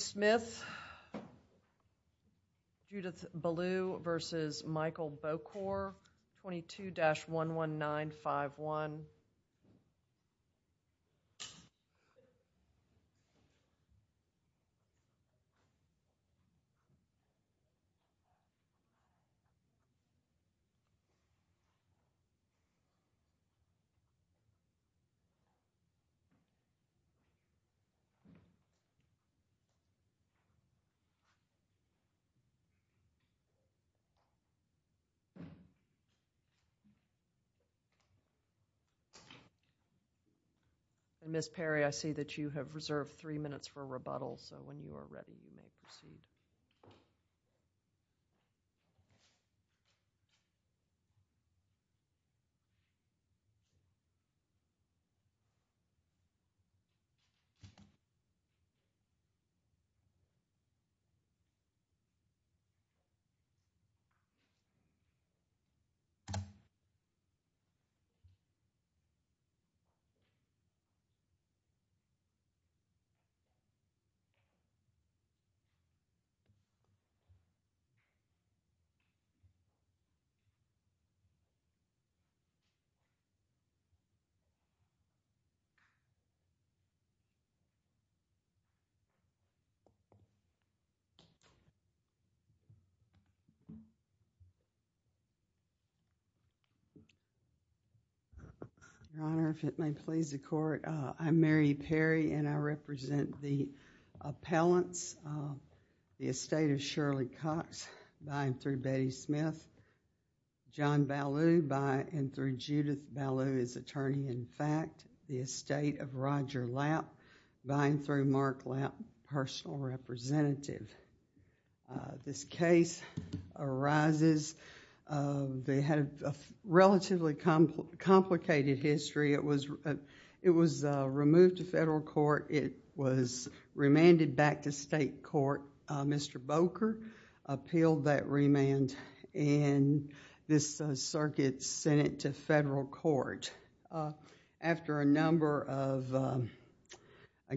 Smith v. Michael Bokor 22-11951 Ms. Perry, I see that you have reserved three minutes for rebuttal, so when you are ready, you may proceed. Your Honor, if it may please the Court, I am Mary Perry and I represent the The estate of Shirley Cox v. Betty Smith, John Ballew v. Judith Ballew is attorney-in-fact. The estate of Roger Lapp v. Mark Lapp, personal representative. This case arises, they had a relatively complicated history. It was removed to federal court. It was remanded back to state court. Mr. Bokor appealed that remand in this circuit, sent it to federal court. I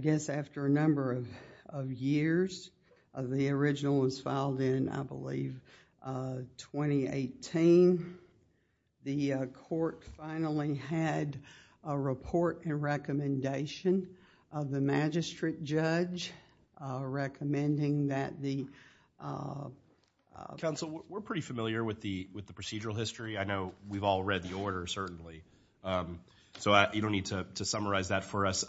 guess after a number of years, the original was filed in, I believe, 2018. The court finally had a report and recommendation of the magistrate judge recommending that the... Counsel, we're pretty familiar with the procedural history. I know we've all read the order, certainly. You don't need to summarize that for us.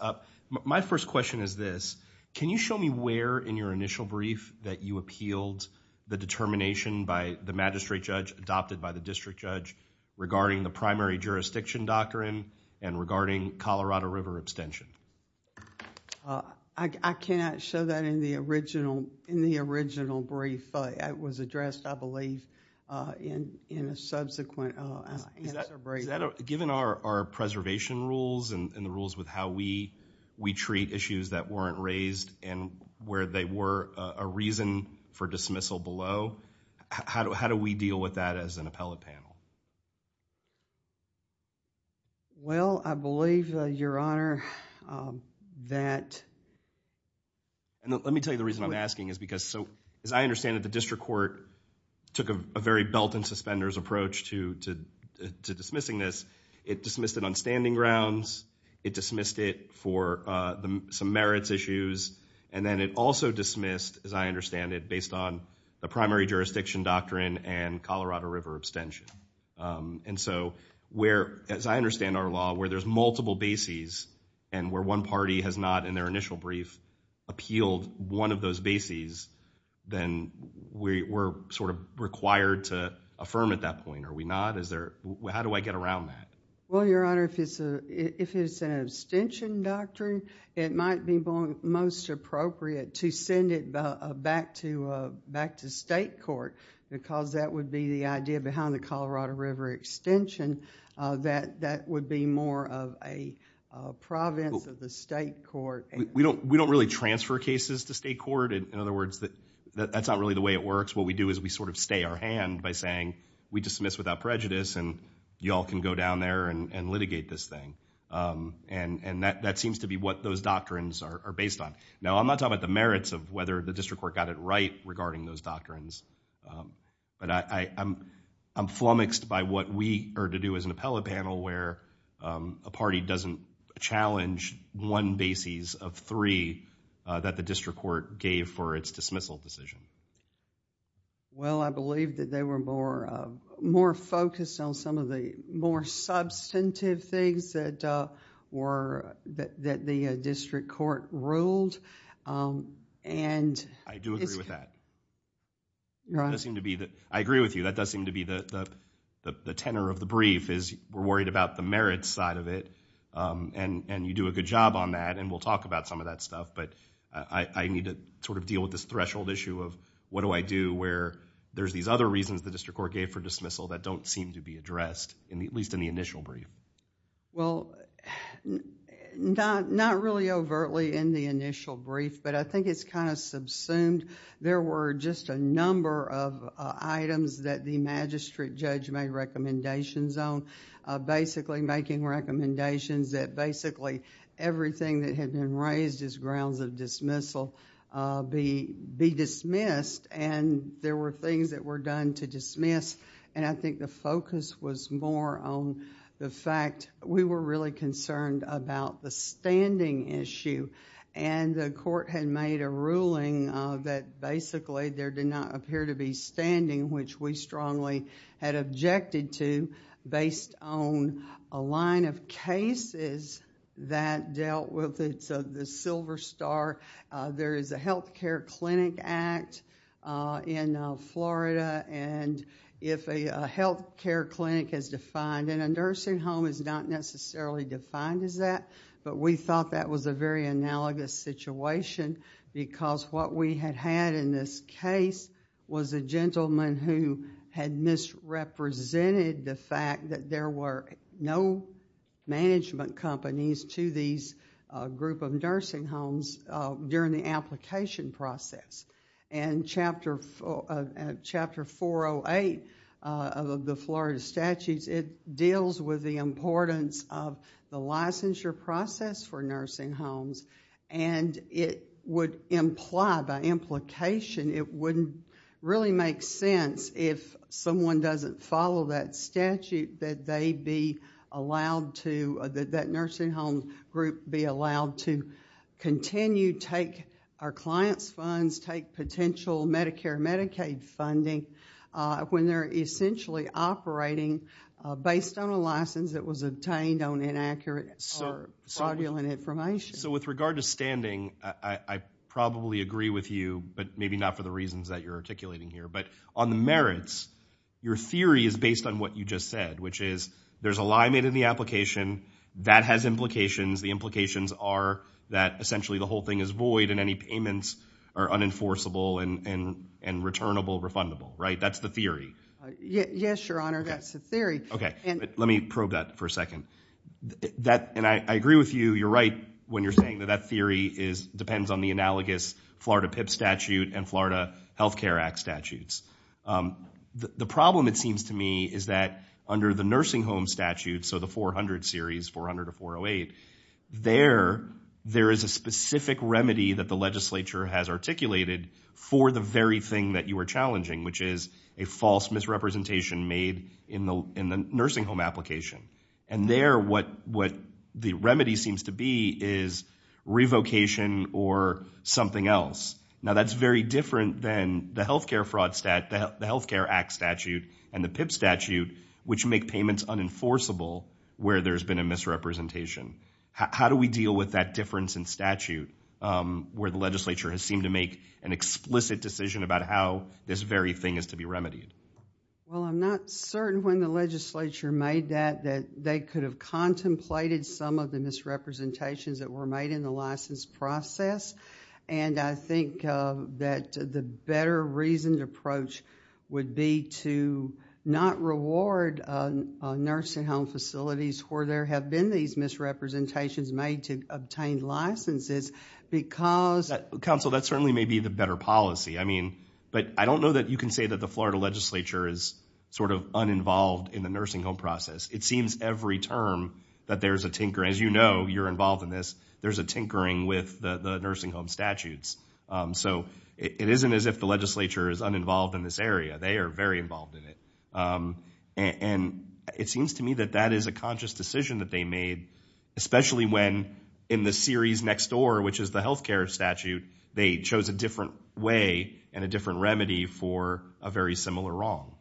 My first question is this. Can you show me where in your initial brief that you appealed the determination by the magistrate judge adopted by the district judge regarding the primary jurisdiction doctrine and regarding Colorado River abstention? I cannot show that in the original brief. It was addressed, I believe, in a subsequent answer brief. Given our preservation rules and the rules with how we treat issues that weren't raised and where they were a reason for dismissal below, how do we deal with that as an appellate panel? Well, I believe, Your Honor, that... Let me tell you the reason I'm asking. As I understand it, the district court took a very belt and suspenders approach to dismissing this. It dismissed it on standing grounds. It dismissed it for some merits issues, and then it also dismissed, as I understand it, based on the primary jurisdiction doctrine and Colorado River abstention. And so, as I understand our law, where there's multiple bases and where one party has not, in their initial brief, appealed one of those bases, then we're sort of required to affirm at that point, are we not? How do I get around that? Well, Your Honor, if it's an abstention doctrine, it might be most appropriate to send it back to state court because that would be the idea behind the Colorado River extension that that would be more of a province of the state court. We don't really transfer cases to state court. In other words, that's not really the way it works. What we do is we sort of stay our hand by saying we dismiss without prejudice and you all can go down there and litigate this thing. And that seems to be what those doctrines are based on. Now, I'm not talking about the merits of whether the district court got it right regarding those doctrines, but I'm flummoxed by what we are to do as an appellate panel where a party doesn't challenge one bases of three that the district court gave for its dismissal decision. Well, I believe that they were more focused on some of the more substantive things that the district court ruled and... I do agree with that. Your Honor. I agree with you. That does seem to be the tenor of the brief is we're worried about the merits side of it and you do a good job on that and we'll talk about some of that stuff. But I need to sort of deal with this threshold issue of what do I do where there's these other reasons the district court gave for dismissal that don't seem to be addressed, at least in the initial brief. Well, not really overtly in the initial brief, but I think it's kind of subsumed. There were just a number of items that the magistrate judge made recommendations on, basically making recommendations that basically everything that had been raised as grounds of dismissal be dismissed and there were things that were done to dismiss. I think the focus was more on the fact we were really concerned about the standing issue and the court had made a ruling that basically there did not appear to be standing which we strongly had objected to based on a line of cases that dealt with the silver star. There is a Health Care Clinic Act in Florida and if a health care clinic is defined and a nursing home is not necessarily defined as that, but we thought that was a very analogous situation because what we had had in this case was a gentleman who had misrepresented the fact that there were no management companies to these group of nursing homes during the application process. Chapter 408 of the Florida statutes, it deals with the importance of the licensure process for nursing homes and it would imply by implication, it wouldn't really make sense if someone doesn't follow that statute that they be allowed to, that nursing home group be allowed to continue, take our client's funds, take potential Medicare and Medicaid funding when they're essentially operating based on a license that was obtained on inaccurate or fraudulent information. So with regard to standing, I probably agree with you, but maybe not for the reasons that you're articulating here, but on the merits, your theory is based on what you just said, which is there's a lie made in the application, that has implications, the implications are that essentially the whole thing is void and any payments are unenforceable and returnable, refundable, right? That's the theory. Yes, Your Honor, that's the theory. Okay, let me probe that for a second. And I agree with you, you're right when you're saying that that theory depends on the analogous Florida PIP statute and Florida Health Care Act statutes. The problem, it seems to me, is that under the nursing home statute, so the 400 series, 400 to 408, there is a specific remedy that the legislature has articulated for the very thing that you are challenging, which is a false misrepresentation made in the nursing home application. And there, what the remedy seems to be is revocation or something else. Now, that's very different than the health care fraud statute, the health care act statute, and the PIP statute, which make payments unenforceable where there's been a misrepresentation. How do we deal with that difference in statute where the legislature has seemed to make an explicit decision about how this very thing is to be remedied? Well, I'm not certain when the legislature made that that they could have contemplated some of the misrepresentations that were made in the license process. And I think that the better reasoned approach would be to not reward nursing home facilities where there have been these misrepresentations made to obtain licenses because... Counsel, that certainly may be the better policy. I mean, but I don't know that you can say that the Florida legislature is sort of uninvolved in the nursing home process. It seems every term that there's a tinkering. As you know, you're involved in this. There's a tinkering with the nursing home statutes. So it isn't as if the legislature is uninvolved in this area. They are very involved in it. And it seems to me that that is a conscious decision that they made, especially when in the series next door, which is the health care statute, they chose a different way and a different remedy for a very similar wrong.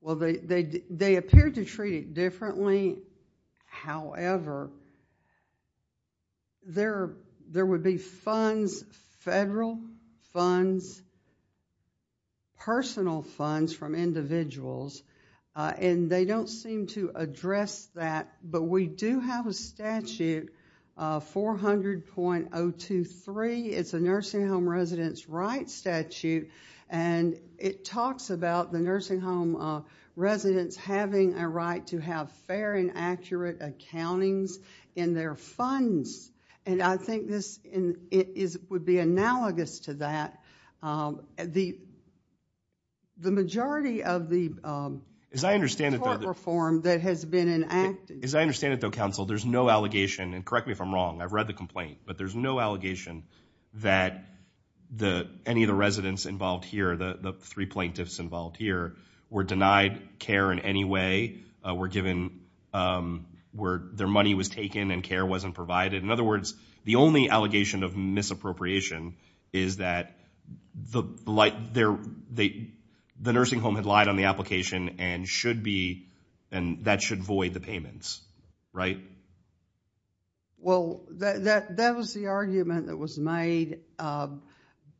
Well, they appeared to treat it differently. However, there would be funds, federal funds, personal funds from individuals, and they don't seem to address that. But we do have a statute, 400.023. It's a nursing home residents' rights statute, and it talks about the nursing home residents having a right to have fair and accurate accountings in their funds. And I think this would be analogous to that. The majority of the court reform that has been enacted. As I understand it, though, counsel, there's no allegation, and correct me if I'm wrong, I've read the complaint, but there's no allegation that any of the residents involved here, the three plaintiffs involved here, were denied care in any way, were given where their money was taken and care wasn't provided. In other words, the only allegation of misappropriation is that the nursing home had lied on the application and that should void the payments, right? Well, that was the argument that was made.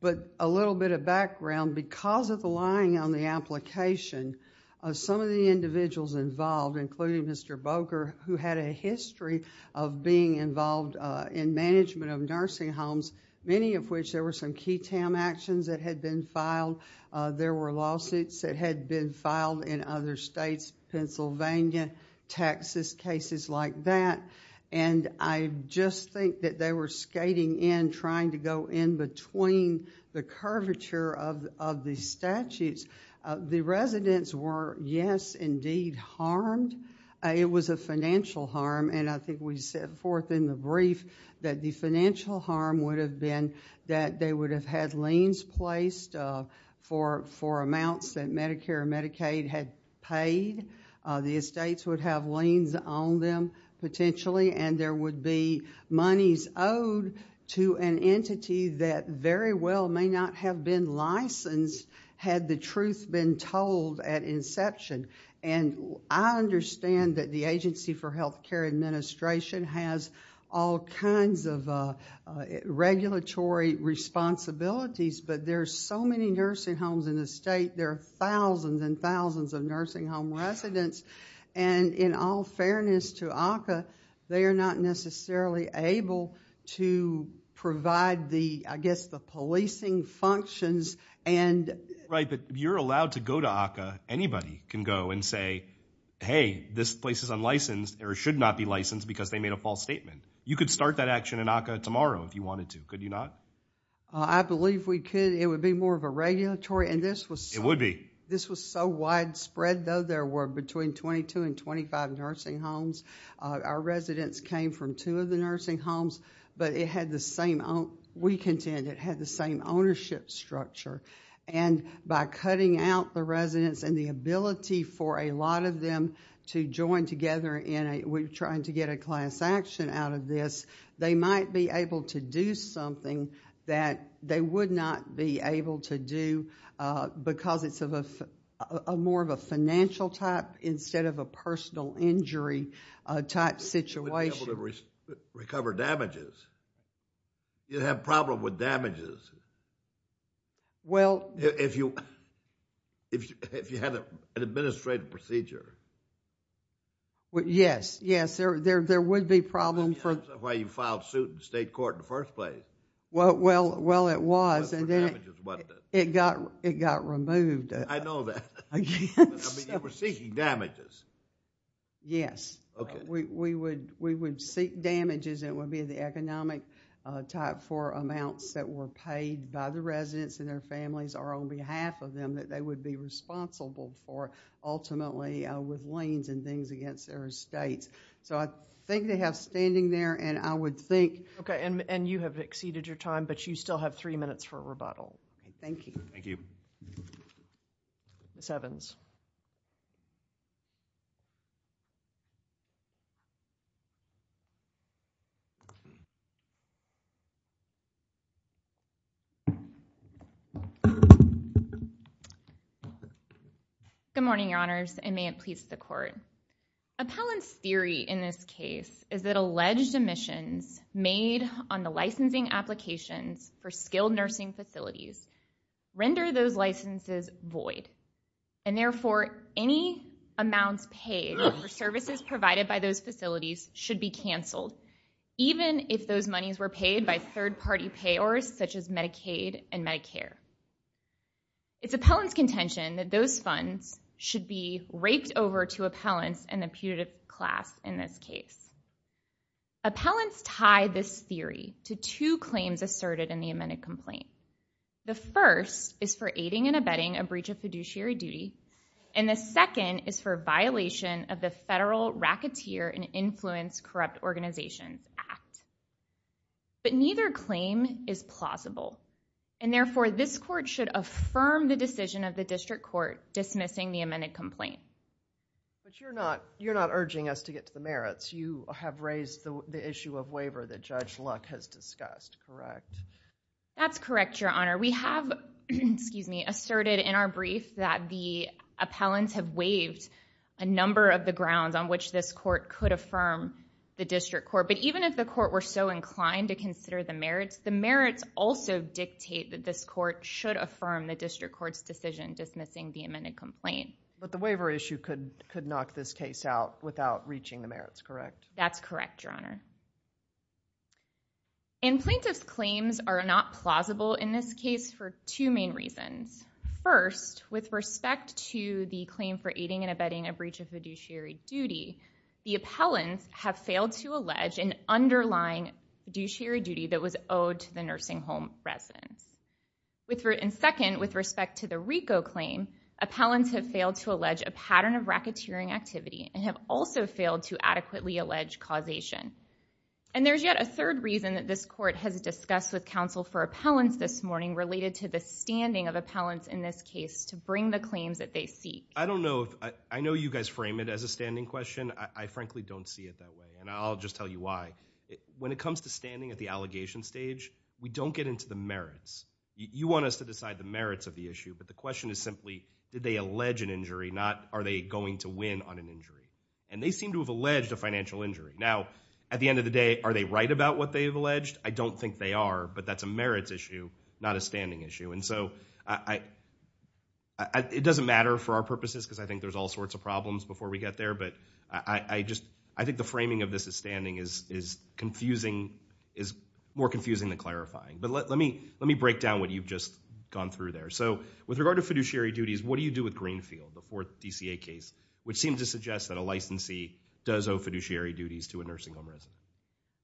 But a little bit of background, because of the lying on the application, some of the individuals involved, including Mr. Boker, who had a history of being involved in management of nursing homes, many of which there were some key TAM actions that had been filed. There were lawsuits that had been filed in other states, Pennsylvania, Texas, cases like that. And I just think that they were skating in, trying to go in between the curvature of the statutes. The residents were, yes, indeed harmed. It was a financial harm, and I think we set forth in the brief that the financial harm would have been that they would have had liens placed for amounts that Medicare and Medicaid had paid. The estates would have liens on them, potentially, and there would be monies owed to an entity that very well may not have been licensed had the truth been told at inception. And I understand that the Agency for Healthcare Administration has all kinds of regulatory responsibilities, but there are so many nursing homes in the state. There are thousands and thousands of nursing home residents. And in all fairness to ACCA, they are not necessarily able to provide the, I guess, the policing functions. Right, but you're allowed to go to ACCA. Anybody can go and say, hey, this place is unlicensed or should not be licensed because they made a false statement. You could start that action in ACCA tomorrow if you wanted to. Could you not? I believe we could. It would be more of a regulatory. It would be. This was so widespread, though. There were between 22 and 25 nursing homes. Our residents came from two of the nursing homes, but we contend it had the same ownership structure. And by cutting out the residents and the ability for a lot of them to join together in trying to get a class action out of this, they might be able to do something that they would not be able to do because it's more of a financial type instead of a personal injury type situation. They wouldn't be able to recover damages. You'd have a problem with damages. Well. If you had an administrative procedure. Yes, yes. There would be problems. That's why you filed suit in state court in the first place. Well, it was. It got removed. I know that. I mean, you were seeking damages. Yes. We would seek damages. It would be the economic type for amounts that were paid by the residents and their families or on behalf of them that they would be responsible for ultimately with liens and things against their estates. I think they have standing there, and I would think. Okay, and you have exceeded your time, but you still have three minutes for a rebuttal. Thank you. Thank you. Ms. Evans. Good morning, Your Honors, and may it please the court. Appellant's theory in this case is that alleged omissions made on the licensing applications for skilled nursing facilities render those licenses void, and therefore any amounts paid for services provided by those facilities should be canceled, even if those monies were paid by third-party payors such as Medicaid and Medicare. It's appellant's contention that those funds should be raked over to appellants and the putative class in this case. Appellants tie this theory to two claims asserted in the amended complaint. The first is for aiding and abetting a breach of fiduciary duty, and the second is for violation of the Federal Racketeer and Influence Corrupt Organizations Act. But neither claim is plausible, and therefore this court should affirm the decision of the district court dismissing the amended complaint. But you're not urging us to get to the merits. You have raised the issue of waiver that Judge Luck has discussed, correct? That's correct, Your Honor. We have asserted in our brief that the appellants have waived a number of the grounds on which this court could affirm the district court. But even if the court were so inclined to consider the merits, the merits also dictate that this court should affirm the district court's decision dismissing the amended complaint. But the waiver issue could knock this case out without reaching the merits, correct? That's correct, Your Honor. And plaintiff's claims are not plausible in this case for two main reasons. First, with respect to the claim for aiding and abetting a breach of fiduciary duty, the appellants have failed to allege an underlying fiduciary duty that was owed to the nursing home residents. And second, with respect to the RICO claim, appellants have failed to allege a pattern of racketeering activity and have also failed to adequately allege causation. And there's yet a third reason that this court has discussed with counsel for appellants this morning related to the standing of appellants in this case to bring the claims that they seek. I don't know. I know you guys frame it as a standing question. I frankly don't see it that way, and I'll just tell you why. When it comes to standing at the allegation stage, we don't get into the merits. You want us to decide the merits of the issue, but the question is simply, did they allege an injury, not are they going to win on an injury? And they seem to have alleged a financial injury. Now, at the end of the day, are they right about what they have alleged? I don't think they are, but that's a merits issue, not a standing issue. And so it doesn't matter for our purposes, because I think there's all sorts of problems before we get there. But I think the framing of this as standing is more confusing than clarifying. But let me break down what you've just gone through there. So with regard to fiduciary duties, what do you do with Greenfield, the fourth DCA case, which seems to suggest that a licensee does owe fiduciary duties to a nursing home resident?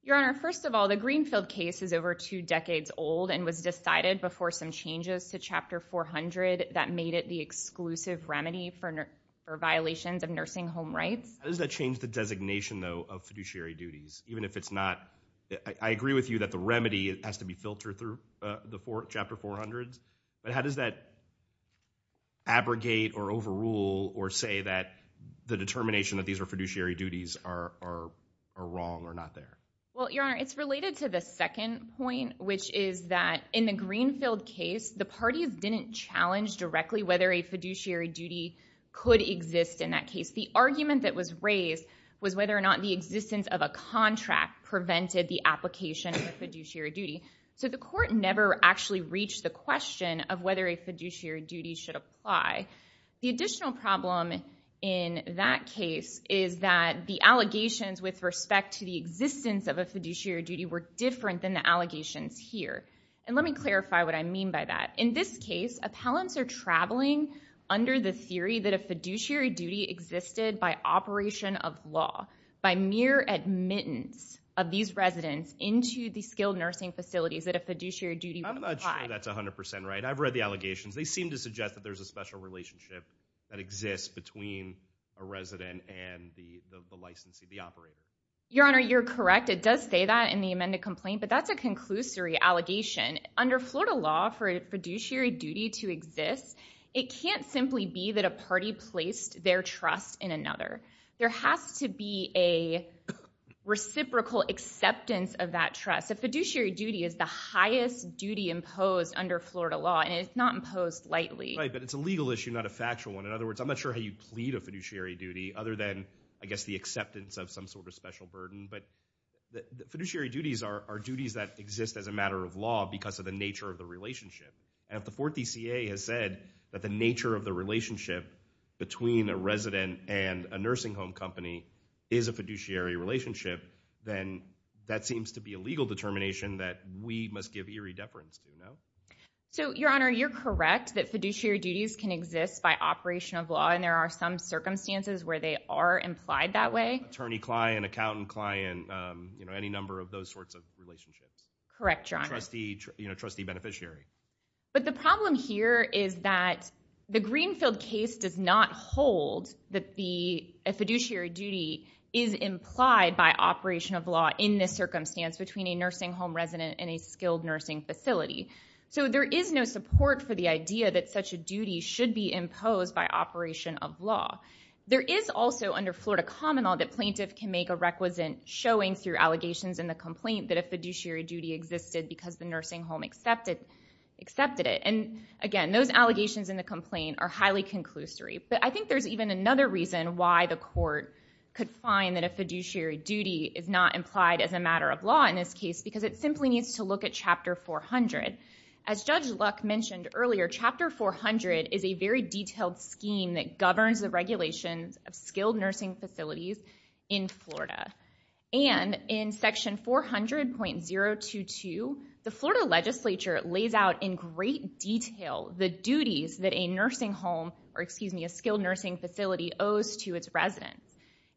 Your Honor, first of all, the Greenfield case is over two decades old and was decided before some changes to Chapter 400 that made it the exclusive remedy for violations of nursing home rights. How does that change the designation, though, of fiduciary duties? Even if it's not, I agree with you that the remedy has to be filtered through the Chapter 400. But how does that abrogate or overrule or say that the determination that these are fiduciary duties are wrong or not there? Well, Your Honor, it's related to the second point, which is that in the Greenfield case, the parties didn't challenge directly whether a fiduciary duty could exist in that case. The argument that was raised was whether or not the existence of a contract prevented the application of a fiduciary duty. So the court never actually reached the question of whether a fiduciary duty should apply. The additional problem in that case is that the allegations with respect to the existence of a fiduciary duty were different than the allegations here. And let me clarify what I mean by that. In this case, appellants are traveling under the theory that a fiduciary duty existed by operation of law, by mere admittance of these residents into the skilled nursing facilities that a fiduciary duty would apply. I'm not sure that's 100% right. I've read the allegations. They seem to suggest that there's a special relationship that exists between a resident and the licensee, the operator. Your Honor, you're correct. It does say that in the amended complaint, but that's a conclusory allegation. Under Florida law, for a fiduciary duty to exist, it can't simply be that a party placed their trust in another. There has to be a reciprocal acceptance of that trust. A fiduciary duty is the highest duty imposed under Florida law, and it's not imposed lightly. Right, but it's a legal issue, not a factual one. In other words, I'm not sure how you plead a fiduciary duty, other than, I guess, the acceptance of some sort of special burden. But fiduciary duties are duties that exist as a matter of law because of the nature of the relationship. And if the Fourth DCA has said that the nature of the relationship between a resident and a nursing home company is a fiduciary relationship, then that seems to be a legal determination that we must give eerie deference to, no? So, Your Honor, you're correct that fiduciary duties can exist by operation of law, and there are some circumstances where they are implied that way. Attorney-client, accountant-client, you know, any number of those sorts of relationships. Correct, Your Honor. You know, trustee-beneficiary. But the problem here is that the Greenfield case does not hold that a fiduciary duty is implied by operation of law in this circumstance between a nursing home resident and a skilled nursing facility. So there is no support for the idea that such a duty should be imposed by operation of law. There is also under Florida common law that plaintiff can make a requisite showing through allegations in the complaint that a fiduciary duty existed because the nursing home accepted it. And again, those allegations in the complaint are highly conclusory. But I think there's even another reason why the court could find that a fiduciary duty is not implied as a matter of law in this case because it simply needs to look at Chapter 400. As Judge Luck mentioned earlier, Chapter 400 is a very detailed scheme that governs the regulations of skilled nursing facilities in Florida. And in Section 400.022, the Florida legislature lays out in great detail the duties that a nursing home, or excuse me, a skilled nursing facility owes to its residents.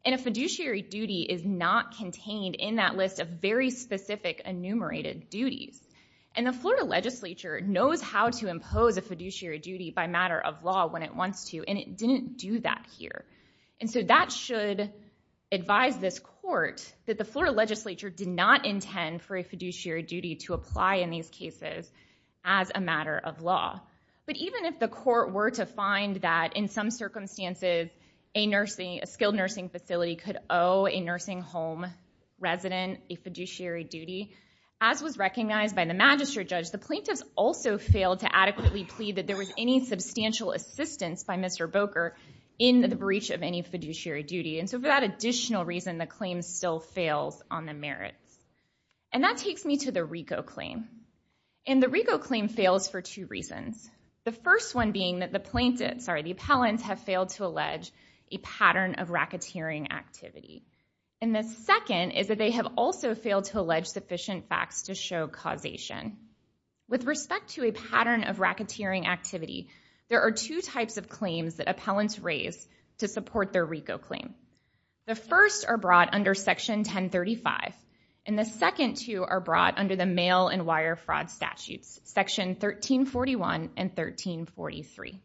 And a fiduciary duty is not contained in that list of very specific enumerated duties. And the Florida legislature knows how to impose a fiduciary duty by matter of law when it wants to. And it didn't do that here. And so that should advise this court that the Florida legislature did not intend for a fiduciary duty to apply in these cases as a matter of law. But even if the court were to find that in some circumstances, a skilled nursing facility could owe a nursing home resident a fiduciary duty, as was recognized by the magistrate judge, the plaintiffs also failed to adequately plead that there was any substantial assistance by Mr. Boker in the breach of any fiduciary duty. And so for that additional reason, the claim still fails on the merits. And that takes me to the RICO claim. And the RICO claim fails for two reasons. The first one being that the plaintiffs, sorry, the appellants have failed to allege a pattern of racketeering activity. And the second is that they have also failed to allege sufficient facts to show causation. With respect to a pattern of racketeering activity, there are two types of claims that appellants raise to support their RICO claim. The first are brought under section 1035. And the second two are brought under the mail and wire fraud statutes, section 1341 and 1343.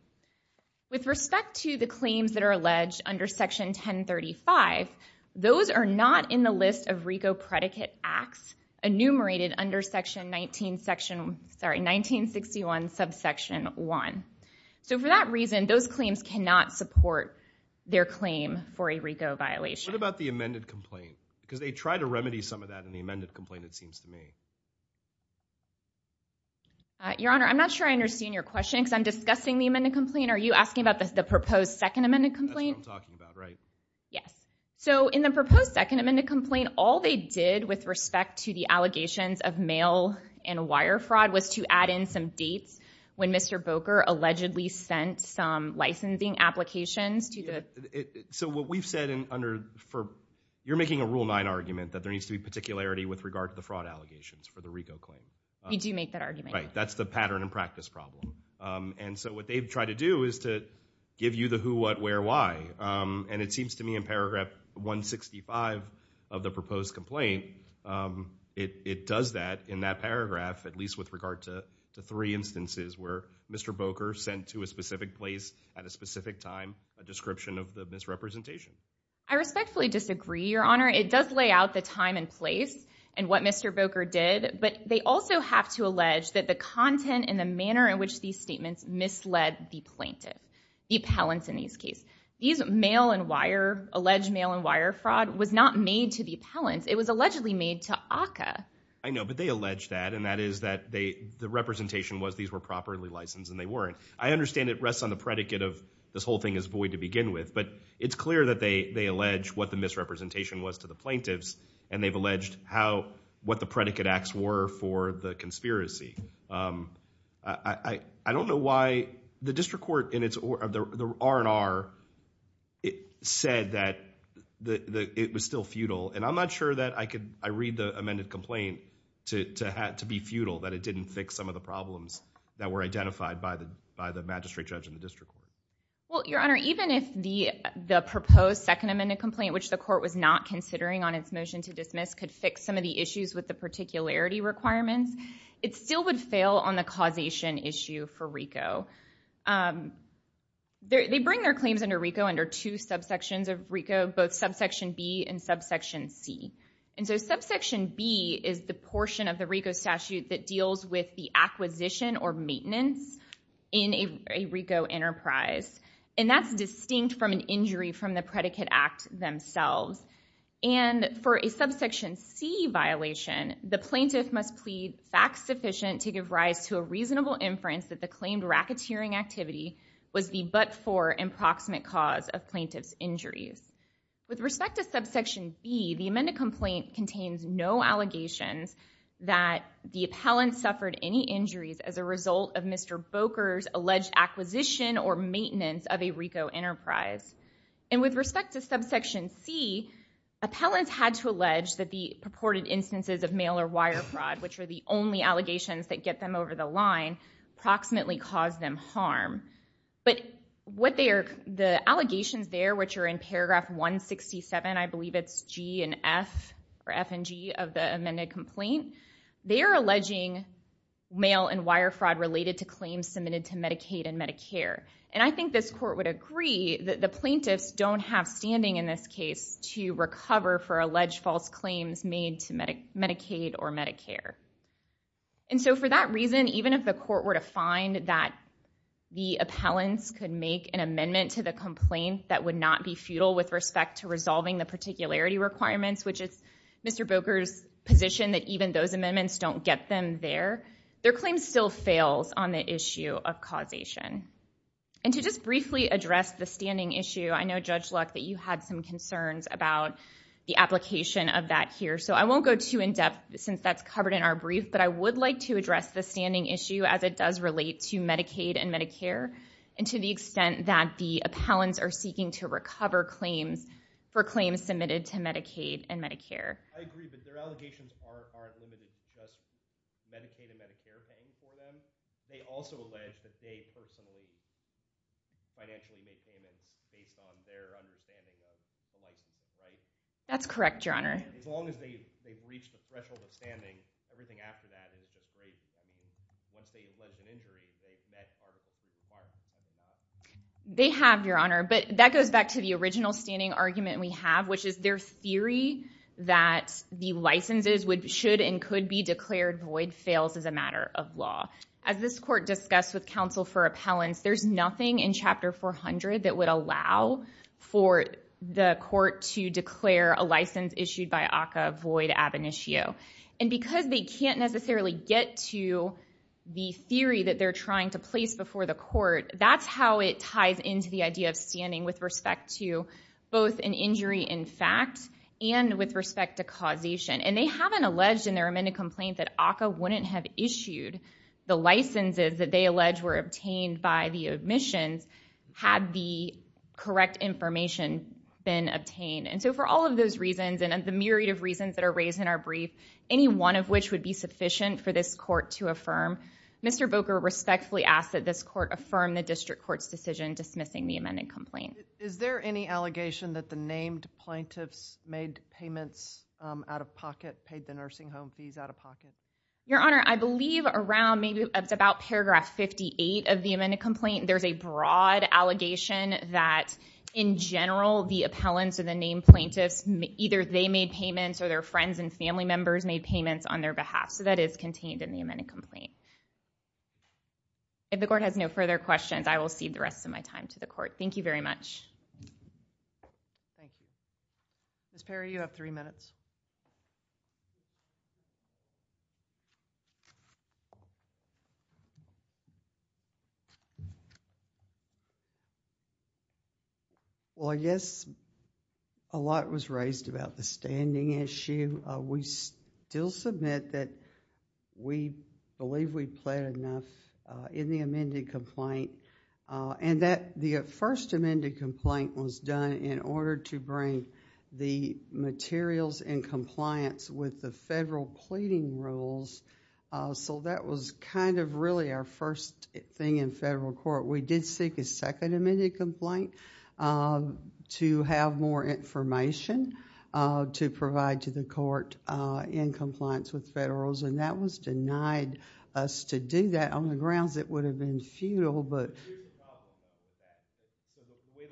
With respect to the claims that are alleged under section 1035, those are not in the list of RICO predicate acts enumerated under section 19 section, sorry, 1961 subsection 1. So for that reason, those claims cannot support their claim for a RICO violation. What about the amended complaint? Because they tried to remedy some of that in the amended complaint, it seems to me. Your Honor, I'm not sure I understand your question because I'm discussing the amended complaint. Are you asking about the proposed second amended complaint? That's what I'm talking about, right? Yes. So in the proposed second amended complaint, all they did with respect to the allegations of mail and wire fraud was to add in some dates when Mr. Boker allegedly sent some licensing applications to the... So what we've said under, you're making a Rule 9 argument that there needs to be particularity with regard to the fraud allegations for the RICO claim. We do make that argument. Right, that's the pattern and practice problem. And so what they've tried to do is to give you the who, what, where, why. And it seems to me in paragraph 165 of the proposed complaint, it does that in that paragraph, at least with regard to the three instances where Mr. Boker sent to a specific place at a specific time a description of the misrepresentation. I respectfully disagree, Your Honor. It does lay out the time and place and what Mr. Boker did, but they also have to allege that the content and the manner in which these statements misled the plaintiff, the appellants in this case. These mail and wire, alleged mail and wire fraud was not made to the appellants. It was allegedly made to ACCA. I know, but they allege that, and that is that the representation was these were properly licensed and they weren't. I understand it rests on the predicate of this whole thing is void to begin with, but it's clear that they allege what the misrepresentation was to the plaintiffs, and they've alleged what the predicate acts were for the conspiracy. I don't know why the district court, the R&R said that it was still futile, and I'm not sure that I read the amended complaint to be futile, that it didn't fix some of the problems that were identified by the magistrate judge in the district court. Well, Your Honor, even if the proposed second amended complaint, which the court was not considering on its motion to dismiss could fix some of the issues with the particularity requirements, it still would fail on the causation issue for RICO. They bring their claims under RICO under two subsections of RICO, both subsection B and subsection C, and so subsection B is the portion of the RICO statute that deals with the acquisition or maintenance in a RICO enterprise, and that's distinct from an injury from the predicate act themselves, and for a subsection C violation, the plaintiff must plead facts sufficient to give rise to a reasonable inference that the claimed racketeering activity was the but-for and proximate cause of plaintiff's injuries. With respect to subsection B, the amended complaint contains no allegations that the appellant suffered any injuries as a result of Mr. Boker's alleged acquisition or maintenance of a RICO enterprise, and with respect to subsection C, appellants had to allege that the purported instances of mail or wire fraud, which are the only allegations that get them over the line, approximately caused them harm, but the allegations there, which are in paragraph 167, I believe it's G and F or F and G of the amended complaint, they are alleging mail and wire fraud related to claims submitted to Medicaid and Medicare, and I think this court would agree that the plaintiffs don't have standing in this case to recover for alleged false claims made to Medicaid or Medicare. And so for that reason, even if the court were to find that the appellants could make an amendment to the complaint that would not be futile with respect to resolving the particularity requirements, which is Mr. Boker's position that even those amendments don't get them there, their claim still fails on the issue of causation. And to just briefly address the standing issue, I know, Judge Luck, that you had some concerns about the application of that here, so I won't go too in-depth since that's covered in our brief, but I would like to address the standing issue as it does relate to Medicaid and Medicare and to the extent that the appellants are seeking to recover claims for claims submitted to Medicaid and Medicare. I agree, but their allegations aren't limited to just Medicaid and Medicare paying for them. They also allege that they personally financially make payments based on their understanding of the license, right? That's correct, Your Honor. As long as they've reached the threshold of standing, everything after that is the case. Once they've led to an injury, they've met all the requirements. They have, Your Honor, but that goes back to the original standing argument we have, which is their theory that the licenses should and could be declared void fails as a matter of law. As this court discussed with counsel for appellants, there's nothing in Chapter 400 that would allow for the court to declare a license issued by ACCA void ab initio. Because they can't necessarily get to the theory that they're trying to place before the court, that's how it ties into the idea of standing with respect to both an injury in fact and with respect to causation. They haven't alleged in their amended complaint that ACCA wouldn't have issued the licenses that they allege were obtained by the admissions had the correct information been obtained. And so for all of those reasons and the myriad of reasons that are raised in our brief, any one of which would be sufficient for this court to affirm, Mr. Boker respectfully asks that this court affirm the district court's decision dismissing the amended complaint. Is there any allegation that the named plaintiffs made payments out of pocket, paid the nursing home fees out of pocket? Your Honor, I believe around maybe about paragraph 58 of the amended complaint, there's a broad allegation that in general the appellants or the named plaintiffs, either they made payments or their friends and family members made payments on their behalf. So that is contained in the amended complaint. If the court has no further questions, I will cede the rest of my time to the court. Thank you very much. Thank you. Ms. Perry, you have three minutes. Well, yes, a lot was raised about the standing issue. We still submit that we believe we've pled enough in the amended complaint. And that the first amended complaint was done in order to bring the materials in compliance with the federal pleading rules. So that was kind of really our first thing in federal court. We did seek a second amended complaint to have more information to provide to the court in compliance with federal rules. And that was denied us to do that on the grounds it would have been futile, but... The way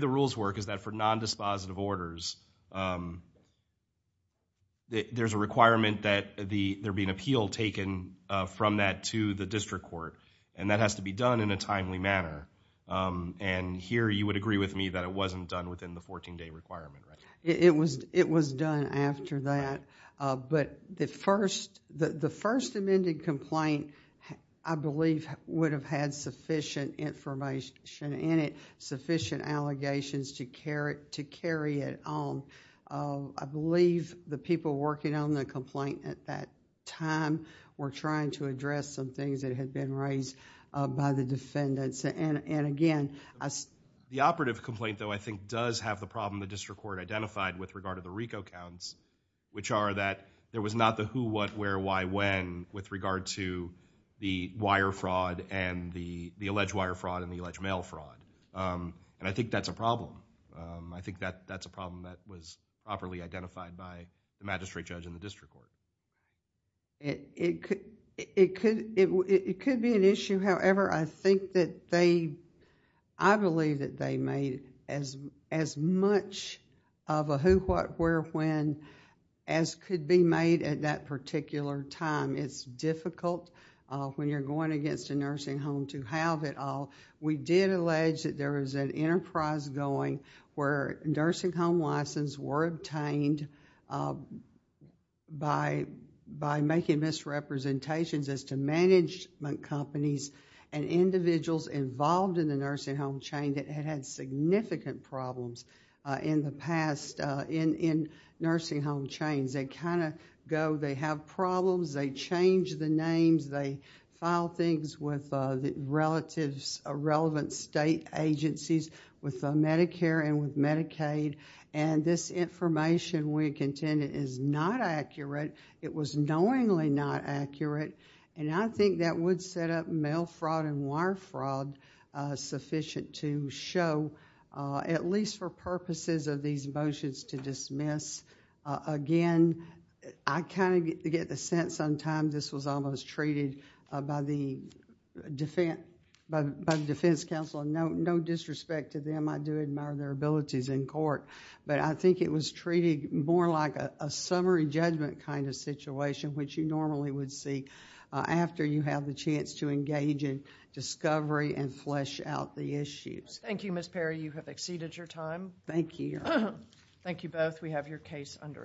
the rules work is that for nondispositive orders, there's a requirement that there be an appeal taken from that to the district court. And that has to be done in a timely manner. And here, you would agree with me that it wasn't done within the 14-day requirement, right? It was done after that. But the first amended complaint, I believe, would have had sufficient information in it, sufficient allegations to carry it on. I believe the people working on the complaint at that time were trying to address some things that had been raised by the defendants. And again... The operative complaint, though, I think, does have the problem the district court identified with regard to the RICO counts, which are that there was not the who, what, where, why, when with regard to the wire fraud and the alleged wire fraud and the alleged mail fraud. And I think that's a problem. I think that's a problem that was properly identified by the magistrate judge and the district court. It could be an issue. However, I think that they... I believe that they made as much of a who, what, where, when as could be made at that particular time. It's difficult when you're going against a nursing home to have it all. We did allege that there was an enterprise going where nursing home licenses were obtained by making misrepresentations as to management companies and individuals involved in the nursing home chain that had had significant problems in the past in nursing home chains. They kind of go... They solve problems. They change the names. They file things with the relevant state agencies with Medicare and with Medicaid. And this information we contended is not accurate. It was knowingly not accurate. And I think that would set up mail fraud and wire fraud sufficient to show, at least for purposes of these motions, to dismiss. Again, I kind of get the sense sometimes this was almost treated by the defense counsel. No disrespect to them. I do admire their abilities in court. But I think it was treated more like a summary judgment kind of situation, which you normally would see after you have the chance to engage in discovery and flesh out the issues. Thank you, Ms. Perry. You have exceeded your time. Thank you. Thank you both. And I guess we have your case under advise.